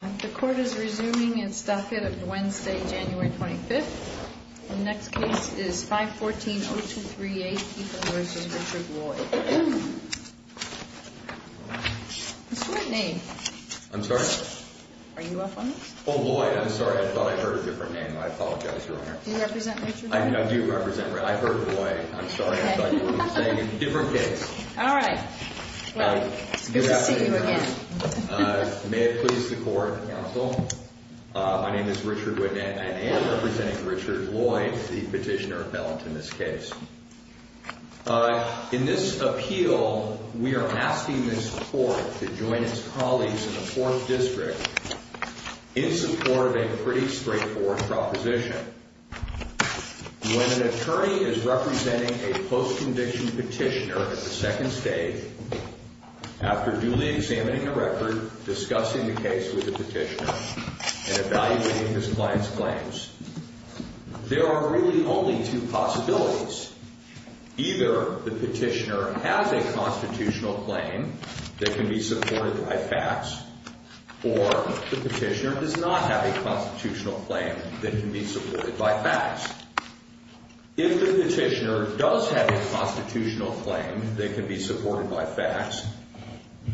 The Court is resuming its docket of Wednesday, January 25th. The next case is 514-0238, Keith versus Richard Lloyd. What's your name? I'm sorry? Are you off on this? Oh, Lloyd, I'm sorry. I thought I heard a different name. I apologize, Your Honor. Do you represent Richard Lloyd? I do represent Richard. I heard Lloyd. I'm sorry. I thought you were saying a different case. All right. Well, it's good to see you again. May it please the Court and the Counsel, my name is Richard Wynette and I am representing Richard Lloyd, the petitioner appellant in this case. In this appeal, we are asking this Court to join its colleagues in the Fourth District in support of a pretty straightforward proposition. When an attorney is representing a post-conviction petitioner at the second stage, after duly examining the record, discussing the case with the petitioner, and evaluating his client's claims, there are really only two possibilities. Either the petitioner has a constitutional claim that can be supported by facts, or the petitioner does not have a constitutional claim that can be supported by facts. If the petitioner does have a constitutional claim that can be supported by facts,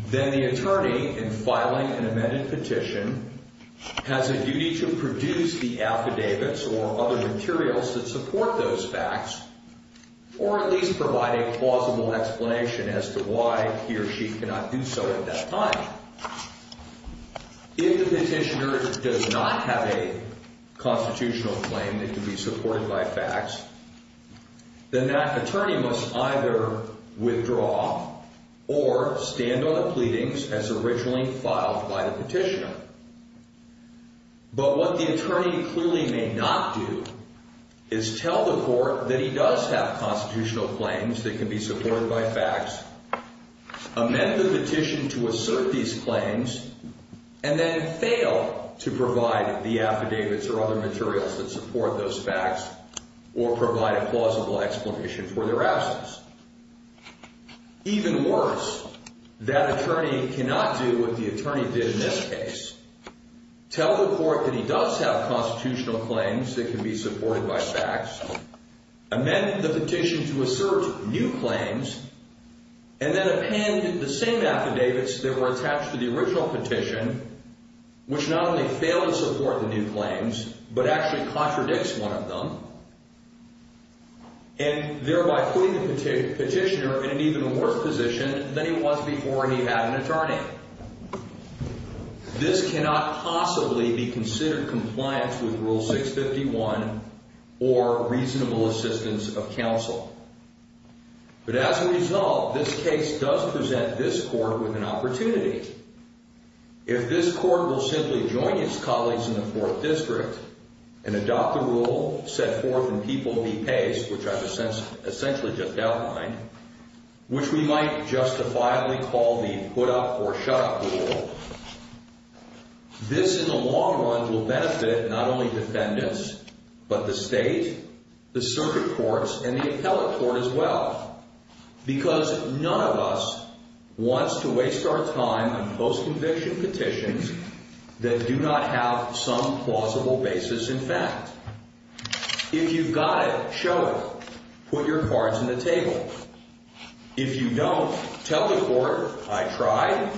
then the attorney, in filing an amended petition, has a duty to produce the affidavits or other materials that support those facts, or at least provide a plausible explanation as to why he or she cannot do so at that time. If the petitioner does not have a constitutional claim that can be supported by facts, then that attorney must either withdraw or stand on the pleadings as originally filed by the petitioner. But what the attorney clearly may not do is tell the Court that he does have constitutional claims that can be supported by facts, amend the petition to assert these claims, and then fail to provide the affidavits or other materials that support those facts, or provide a plausible explanation for their absence. Even worse, that attorney cannot do what the attorney did in this case. Tell the Court that he does have constitutional claims that can be supported by facts, amend the petition to assert new claims, and then append the same affidavits that were attached to the original petition, which not only fail to support the new claims, but actually contradicts one of them, and thereby putting the petitioner in an even worse position than he was before he had an attorney. This cannot possibly be considered compliance with Rule 651 or reasonable assistance of counsel. But as a result, this case does present this Court with an opportunity. If this Court will simply join its colleagues in the Fourth District and adopt the rule, set forth in People v. Pace, which I've essentially just outlined, which we might justifiably call the put-up-or-shut-up rule, this in the long run will benefit not only defendants, but the State, the circuit courts, and the appellate court as well, because none of us wants to waste our time on post-conviction petitions that do not have some plausible basis in fact. If you've got it, show it. Put your cards on the table. If you don't, tell the Court, I tried,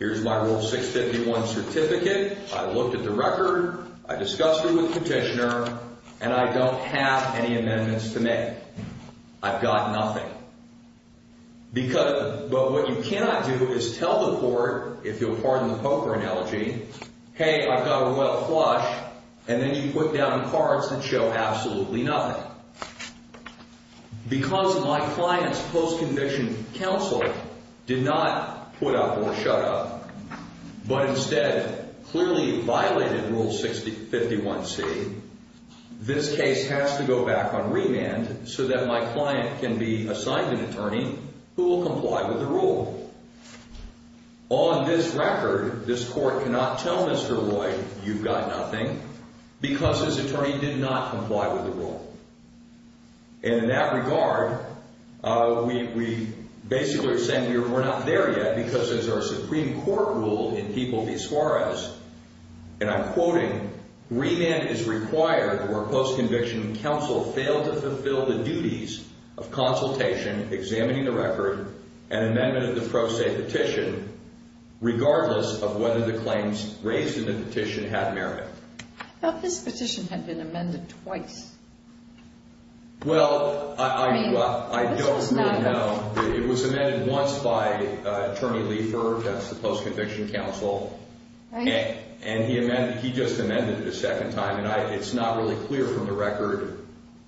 here's my Rule 651 certificate, I looked at the record, I discussed it with the petitioner, and I don't have any amendments to make. I've got nothing. But what you cannot do is tell the Court, if you'll pardon the poker analogy, hey, I've got a well flush, and then you put down cards that show absolutely nothing. Because my client's post-conviction counsel did not put-up-or-shut-up, but instead clearly violated Rule 651C, this case has to go back on remand so that my client can be assigned an attorney who will comply with the rule. On this record, this Court cannot tell Mr. Roy, you've got nothing, because his attorney did not comply with the rule. And in that regard, we basically are saying we're not there yet, because as our Supreme Court ruled in People v. Suarez, and I'm quoting, remand is required where post-conviction counsel failed to fulfill the duties of consultation, examining the record, and amendment of the pro se petition, regardless of whether the claims raised in the petition had merit. I thought this petition had been amended twice. Well, I don't really know. It was amended once by Attorney Leifer, that's the post-conviction counsel. And he just amended it a second time, and it's not really clear from the record.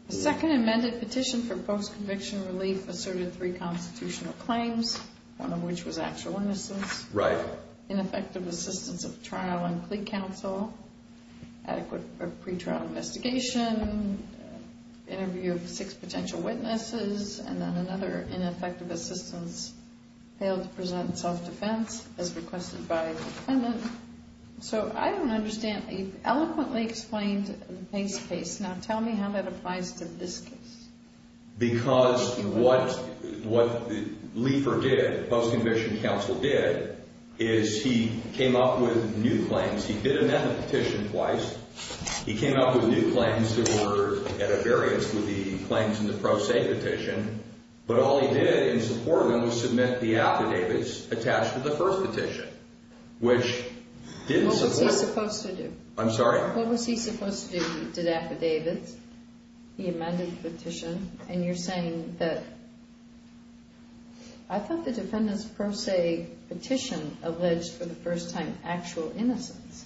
The second amended petition for post-conviction relief asserted three constitutional claims, one of which was actual innocence, ineffective assistance of trial and plea counsel, adequate pretrial investigation, interview of six potential witnesses, and then another, ineffective assistance, failed to present self-defense as requested by the defendant. So I don't understand. He eloquently explained the Pace case. Now tell me how that applies to this case. Because what Leifer did, post-conviction counsel did, is he came up with new claims. He did amend the petition twice. He came up with new claims that were at a variance with the claims in the pro se petition, but all he did in support of them was submit the affidavits attached to the first petition, which didn't support. What was he supposed to do? I'm sorry? What was he supposed to do? He did affidavits. He amended the petition. And you're saying that I thought the defendant's pro se petition alleged for the first time actual innocence.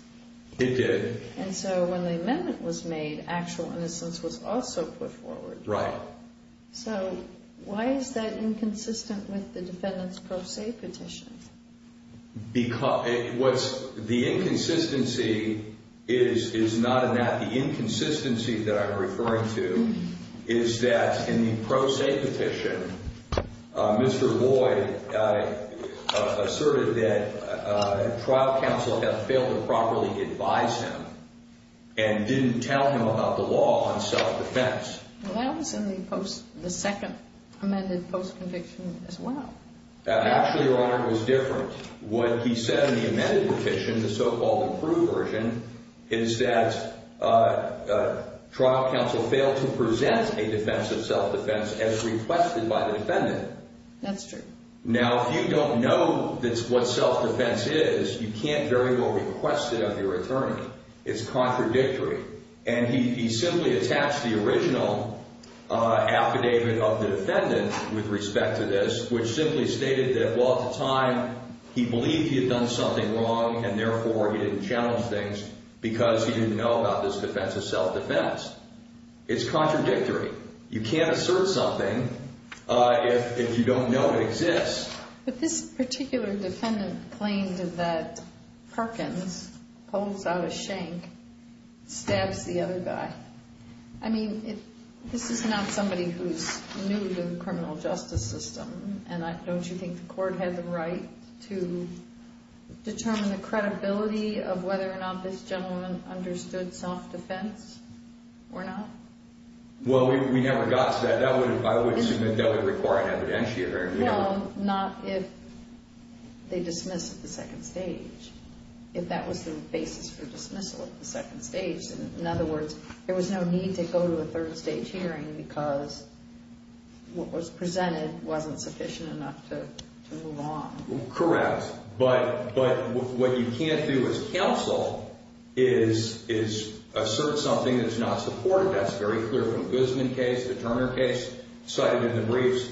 It did. And so when the amendment was made, actual innocence was also put forward. Right. So why is that inconsistent with the defendant's pro se petition? The inconsistency is not in that. The inconsistency that I'm referring to is that in the pro se petition, Mr. Boyd asserted that trial counsel had failed to properly advise him and didn't tell him about the law on self-defense. Well, that was in the second amended post-conviction as well. Actually, Your Honor, it was different. What he said in the amended petition, the so-called approved version, is that trial counsel failed to present a defense of self-defense as requested by the defendant. That's true. Now, if you don't know what self-defense is, you can't very well request it of your attorney. It's contradictory. And he simply attached the original affidavit of the defendant with respect to this, which simply stated that, well, at the time, he believed he had done something wrong, and therefore he didn't challenge things because he didn't know about this defense of self-defense. It's contradictory. You can't assert something if you don't know it exists. But this particular defendant claimed that Perkins pulls out a shank, stabs the other guy. I mean, this is not somebody who's new to the criminal justice system, and don't you think the court had the right to determine the credibility of whether or not this gentleman understood self-defense or not? Well, we never got to that. I would assume that that would require an evidentiator. No, not if they dismiss at the second stage, if that was the basis for dismissal at the second stage. In other words, there was no need to go to a third-stage hearing because what was presented wasn't sufficient enough to move on. Correct. But what you can't do as counsel is assert something that's not supported. That's very clear from the Guzman case, the Turner case, cited in the briefs.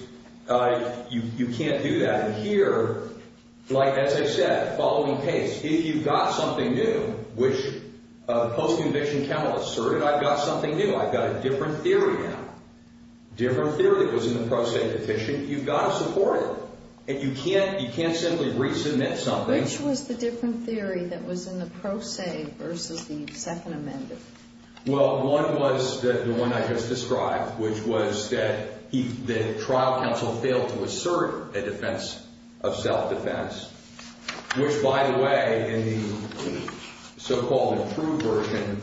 You can't do that. And here, like, as I said, following case, if you've got something new, which post-conviction counsel asserted, I've got something new, I've got a different theory now, different theory that was in the pro se petition. You've got to support it. And you can't simply resubmit something. Which was the different theory that was in the pro se versus the second amendment? Well, one was the one I just described, which was that trial counsel failed to assert a defense of self-defense. Which, by the way, in the so-called true version,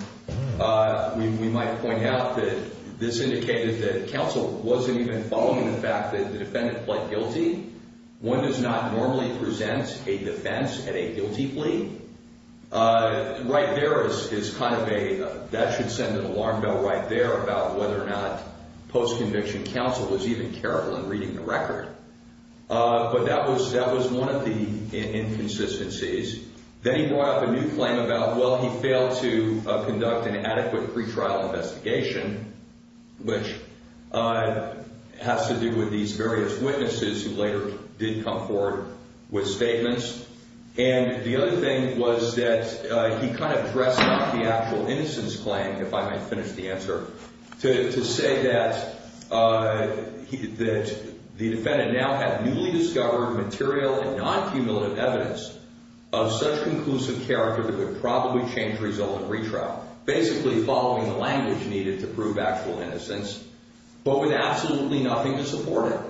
we might point out that this indicated that counsel wasn't even following the fact that the defendant pled guilty. One does not normally present a defense at a guilty plea. Right there is kind of a, that should send an alarm bell right there about whether or not post-conviction counsel was even careful in reading the record. But that was one of the inconsistencies. Then he brought up a new claim about, well, he failed to conduct an adequate pretrial investigation, which has to do with these various witnesses who later did come forward with statements. And the other thing was that he kind of dressed up the actual innocence claim, if I may finish the answer, to say that the defendant now had newly discovered material and non-cumulative evidence of such conclusive character that it would probably change result in retrial. Basically following the language needed to prove actual innocence, but with absolutely nothing to support it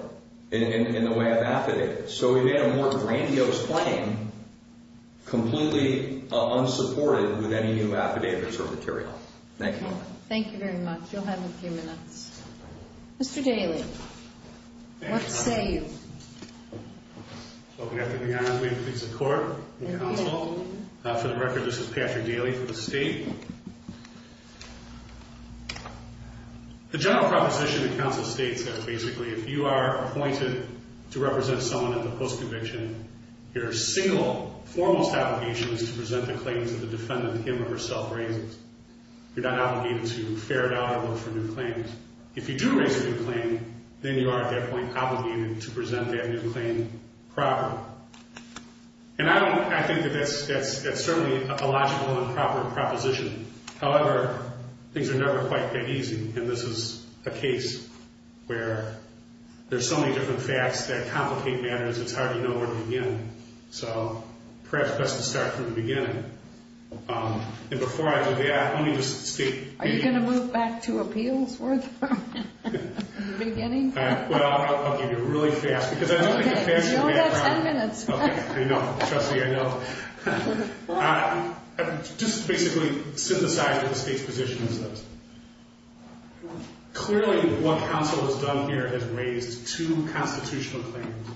in the way of affidavit. So he made a more grandiose claim, completely unsupported with any new affidavits or material. Thank you. Thank you very much. You'll have a few minutes. Mr. Daly, what say you? Welcome back to the New York City Court and Counsel. For the record, this is Patrick Daly for the state. The general proposition in counsel states that basically if you are appointed to represent someone in the post-conviction, your single foremost obligation is to present the claims that the defendant him or herself raises. You're not obligated to ferret out or look for new claims. If you do raise a new claim, then you are at that point obligated to present that new claim proper. And I think that that's certainly a logical and proper proposition. However, things are never quite that easy, and this is a case where there's so many different facts that complicate matters, it's hard to know where to begin. So perhaps best to start from the beginning. And before I do that, let me just state. Are you going to move back to appeals for the beginning? Well, I'll give you a really fast, because I don't think a fast can be that long. Okay, you only have ten minutes. Okay, I know. Trustee, I know. Just to basically synthesize what the state's position is, clearly what counsel has done here is raised two constitutional claims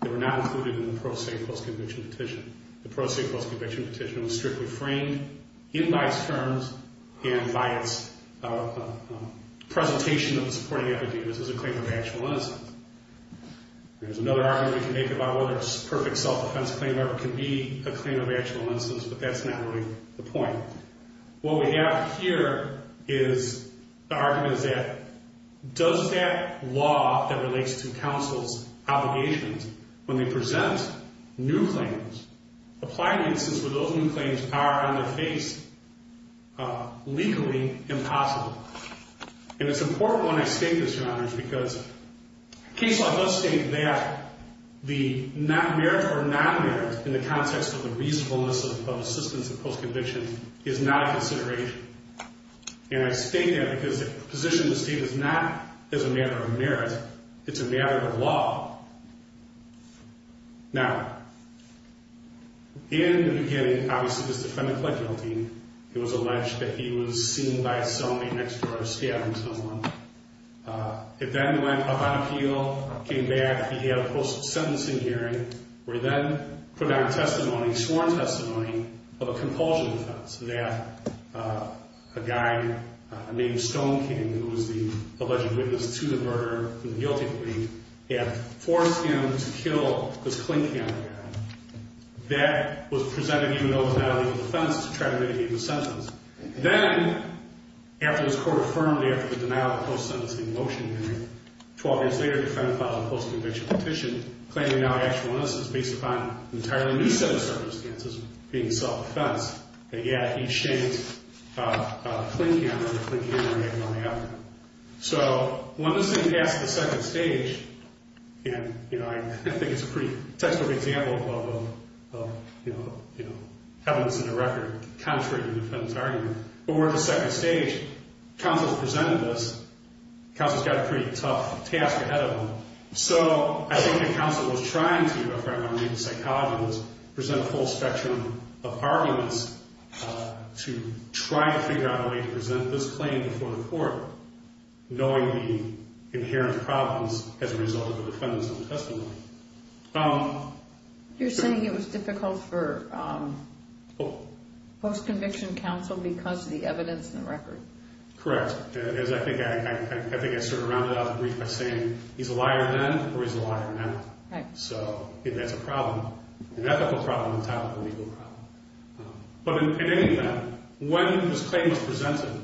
that were not included in the pro se post-conviction petition. The pro se post-conviction petition was strictly framed in by its terms and by its presentation of the supporting evidence as a claim of actual innocence. There's another argument we can make about whether it's a perfect self-defense claim or it can be a claim of actual innocence, but that's not really the point. What we have here is the argument is that does that law that relates to counsel's obligations, when they present new claims, apply the instance where those new claims are on their face, legally impossible? And it's important when I state this, Your Honors, because cases like this state that the merit or non-merit in the context of the reasonableness of assistance in post-conviction is not a consideration. And I state that because the position of the state is not as a matter of merit. It's a matter of law. Now, in the beginning, obviously, this defendant pled guilty. It was alleged that he was seen by his cellmate next door scabbing someone. It then went up on appeal, came back, he had a post-sentencing hearing, where he then put down testimony, sworn testimony, of a compulsion defense. So that a guy named Stone King, who was the alleged witness to the murder and the guilty plea, had forced him to kill this Clinton guy. That was presented, even though it was not a legal defense, to try to mitigate the sentence. Then, after his court affirmed after the denial of the post-sentencing motion hearing, 12 years later, the defendant filed a post-conviction petition, claiming now actual innocence based upon an entirely new set of circumstances, being self-defense. And yet, he shamed Clinton and the Clinton family for making all the effort. So when this thing passed to the second stage, and I think it's a pretty textbook example of evidence in the record, contrary to the defendant's argument, but we're at the second stage. Counsel has presented this. Counsel's got a pretty tough task ahead of him. So I think the counsel was trying to, present a full spectrum of arguments to try to figure out a way to present this claim before the court, knowing the inherent problems as a result of the defendant's own testimony. You're saying it was difficult for post-conviction counsel because of the evidence in the record? Correct. I think I sort of rounded out the brief by saying he's a liar then or he's a liar now. Right. So if that's a problem, an ethical problem, a topical legal problem. But in any event, when this claim was presented,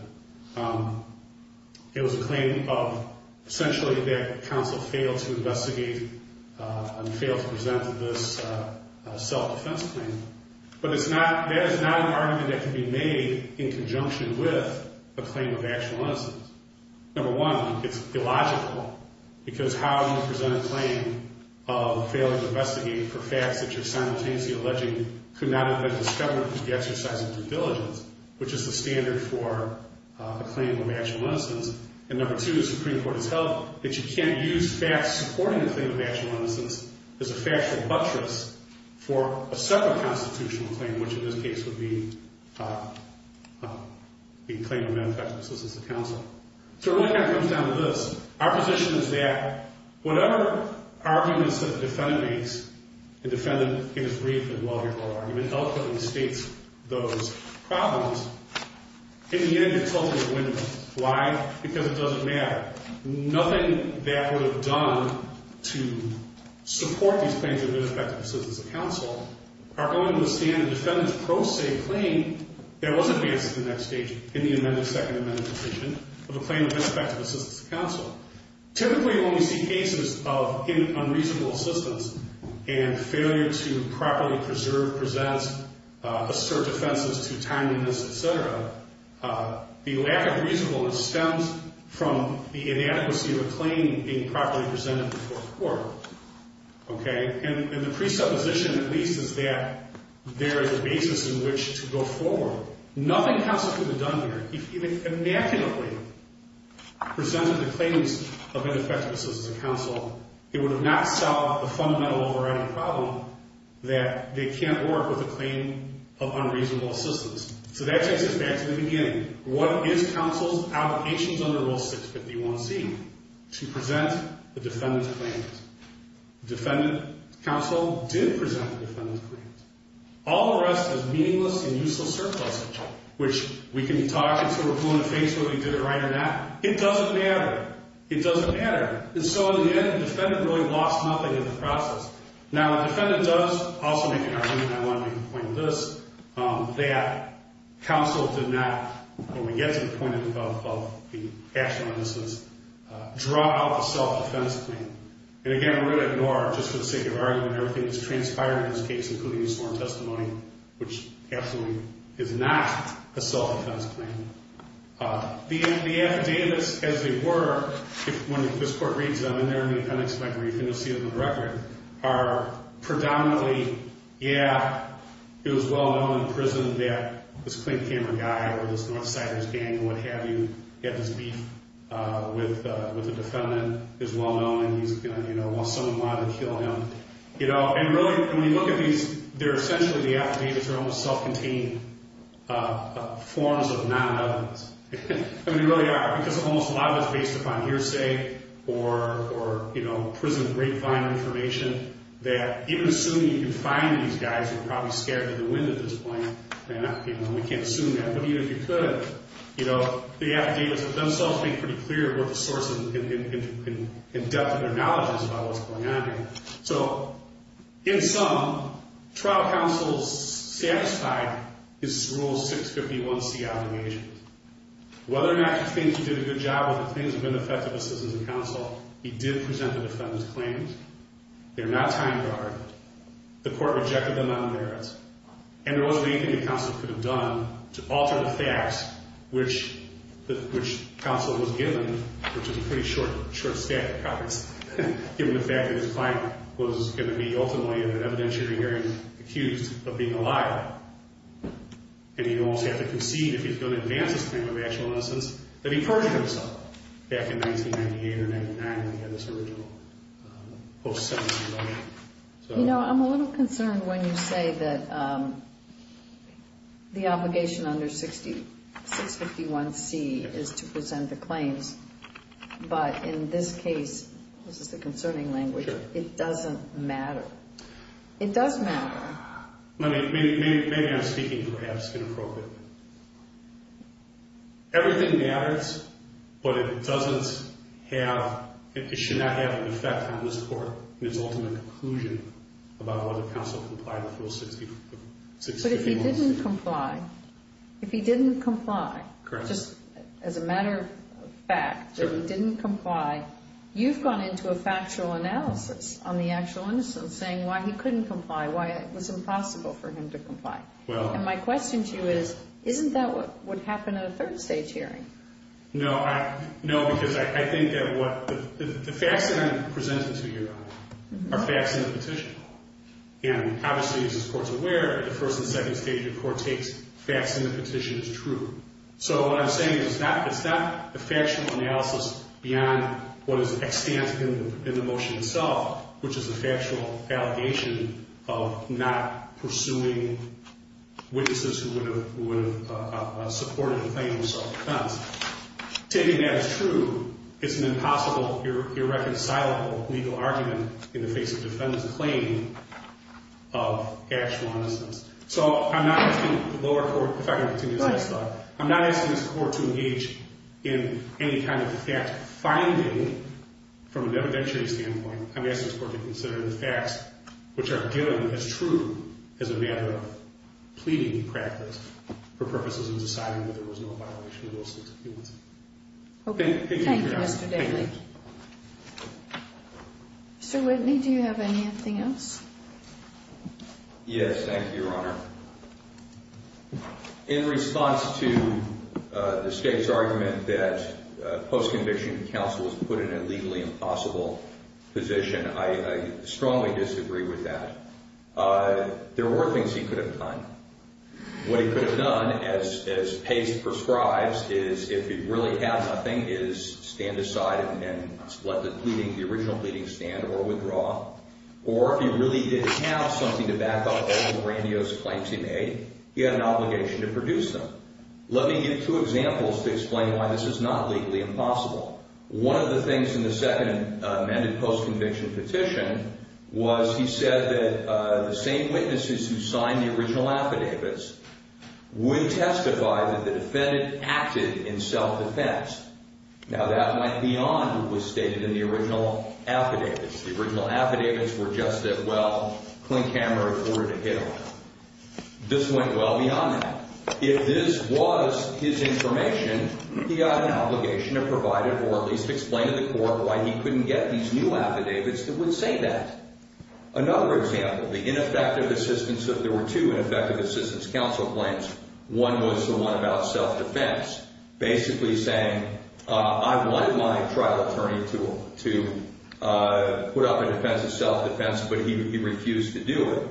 it was a claim of essentially that counsel failed to investigate and failed to present this self-defense claim. But that is not an argument that can be made in conjunction with a claim of actual innocence. Number one, it's illogical, because how you present a claim of failure to investigate for facts that you're simultaneously alleging could not have been discovered through the exercise of due diligence, which is the standard for a claim of actual innocence. And number two, the Supreme Court has held that you can't use facts supporting the claim of actual innocence as a factual buttress for a separate constitutional claim, which in this case would be the claim of ineffective assistance of counsel. So it really kind of comes down to this. Our position is that whatever arguments that the defendant makes, the defendant in his brief and well-recorded argument eloquently states those problems. In the end, it's ultimately a win-win. Why? Because it doesn't matter. Nothing that would have done to support these claims of ineffective assistance of counsel are going to withstand a defendant's pro se claim that wasn't based at the next stage in the Second Amendment decision of a claim of ineffective assistance of counsel. Typically, when we see cases of unreasonable assistance and failure to properly preserve, present, assert defenses to timeliness, et cetera, the lack of reasonableness stems from the inadequacy of a claim being properly presented before the court. And the presupposition, at least, is that there is a basis in which to go forward. Nothing counsel could have done here, if he had immaculately presented the claims of ineffective assistance of counsel, it would have not solved the fundamental overriding problem that they can't work with a claim of unreasonable assistance. So that takes us back to the beginning. What is counsel's allegations under Rule 651c? To present the defendant's claims. Defendant counsel did present the defendant's claims. All the rest is meaningless and useless surplus, which we can talk until we're blue in the face whether we did it right or not. It doesn't matter. It doesn't matter. And so, in the end, the defendant really lost nothing in the process. Now, what the defendant does, also making an argument, and I want to make a point on this, that counsel did not, when we get to the point of the action on this list, draw out the self-defense claim. And, again, I'm going to ignore, just for the sake of argument, everything that's transpired in this case, including his sworn testimony, which absolutely is not a self-defense claim. The affidavits, as they were, when this court reads them, and they're in the appendix of my brief, and you'll see them in the record, are predominantly, yeah, it was well-known in prison that this Clint Cameron guy or this North Siders gang or what have you had this beef with the defendant. It was well-known, and he's going to, you know, want someone to lie to kill him. You know, and really, when you look at these, they're essentially, the affidavits are almost self-contained forms of non-evidence. I mean, they really are, because almost a lot of it's based upon hearsay or prison grapevine information that, even assuming you can find these guys who were probably scared to the wind at this point, and we can't assume that, but even if you could, you know, the affidavits themselves make it pretty clear what the source and depth of their knowledge is about what's going on here. So, in sum, trial counsel satisfied his Rule 651C obligations. Whether or not he thinks he did a good job with the things of ineffective assistance in counsel, he did present the defendant's claims. They're not time-guard. The court rejected them on merits. And there wasn't anything the counsel could have done to alter the facts which counsel was given, which was a pretty short stack of copies, given the fact that his client was going to be ultimately, in an evidentiary hearing, accused of being a liar. And he'd almost have to concede, if he's going to advance his claim of actual innocence, that he perjured himself back in 1998 or 1999 when he had this original post-70s ability. You know, I'm a little concerned when you say that the obligation under 651C is to present the claims, but in this case, this is the concerning language, it doesn't matter. It does matter. Maybe I'm speaking perhaps inappropriately. Everything matters, but it doesn't have, it should not have an effect on this court in its ultimate conclusion about whether counsel complied with Rule 651C. But if he didn't comply, if he didn't comply, just as a matter of fact, if he didn't comply, you've gone into a factual analysis on the actual innocence and saying why he couldn't comply, why it was impossible for him to comply. And my question to you is, isn't that what would happen in a third-stage hearing? No, because I think that the facts that I'm presenting to you, Your Honor, are facts in the petition. And obviously, as this Court's aware, at the first and second stage, the Court takes facts in the petition as true. So what I'm saying is it's not a factual analysis beyond what is extant in the motion itself, which is a factual allegation of not pursuing witnesses who would have supported a claim of self-defense. Taking that as true, it's an impossible, irreconcilable legal argument in the face of defendant's claim of actual innocence. So I'm not asking the lower court, if I can continue this next slide, I'm not asking this Court to engage in any kind of fact-finding from an evidentiary standpoint. I'm asking this Court to consider the facts, which are given as true as a matter of pleading practice for purposes of deciding whether there was no violation of the license of humans. Thank you, Your Honor. Thank you, Mr. Daley. Mr. Whitney, do you have anything else? Yes, thank you, Your Honor. In response to the State's argument that post-conviction counsel was put in a legally impossible position, I strongly disagree with that. There were things he could have done. What he could have done, as Pace prescribes, is if he really had nothing, is stand aside and let the original pleading stand or withdraw. Or if he really did have something to back up all the grandiose claims he made, he had an obligation to produce them. Let me give two examples to explain why this is not legally impossible. One of the things in the second amended post-conviction petition was he said that the same witnesses who signed the original affidavits would testify that the defendant acted in self-defense. Now, that might be on who was stated in the original affidavits. The original affidavits were just that, well, Clint Cameron ordered a hit on him. This went well beyond that. If this was his information, he had an obligation to provide it or at least explain to the court why he couldn't get these new affidavits that would say that. Another example, the ineffective assistance, there were two ineffective assistance counsel claims. One was the one about self-defense, basically saying, I wanted my trial attorney to put up a defense of self-defense, but he refused to do it.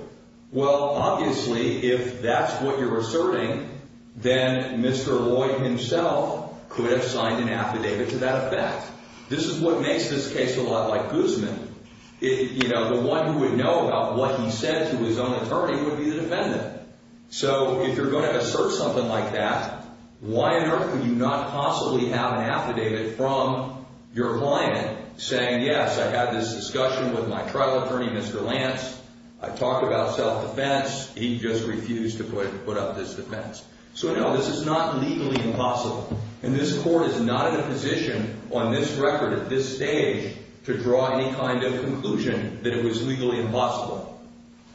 Well, obviously, if that's what you're asserting, then Mr. Lloyd himself could have signed an affidavit to that effect. This is what makes this case a lot like Guzman. The one who would know about what he said to his own attorney would be the defendant. So if you're going to assert something like that, why on earth would you not possibly have an affidavit from your client saying, yes, I had this discussion with my trial attorney, Mr. Lance. I talked about self-defense. He just refused to put up this defense. So, no, this is not legally impossible, and this court is not in a position on this record at this stage to draw any kind of conclusion that it was legally impossible.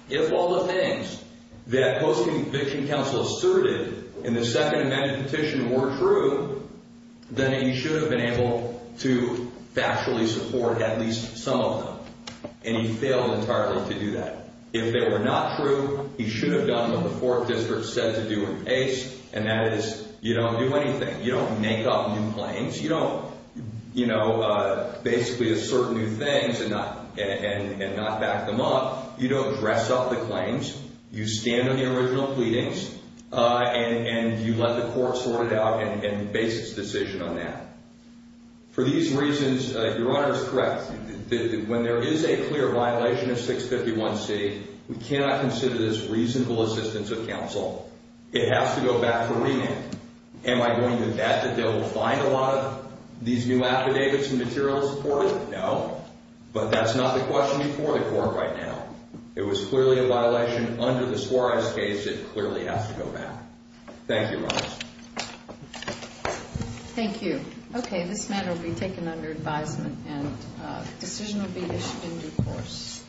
If all the things that Post-Conviction Counsel asserted in the Second Amendment petition were true, then he should have been able to factually support at least some of them, and he failed entirely to do that. If they were not true, he should have done what the Fourth District said to do in case, and that is you don't do anything. You don't make up new claims. You don't, you know, basically assert new things and not back them up. You don't dress up the claims. You stand on the original pleadings, and you let the court sort it out and base its decision on that. For these reasons, Your Honor is correct. When there is a clear violation of 651c, we cannot consider this reasonable assistance of counsel. It has to go back to remand. Am I going to bet that they'll find a lot of these new affidavits and materials for it? No, but that's not the question before the court right now. It was clearly a violation under the Suarez case. It clearly has to go back. Thank you, Your Honor. Thank you. Okay, this matter will be taken under advisement, and the decision will be issued in due course.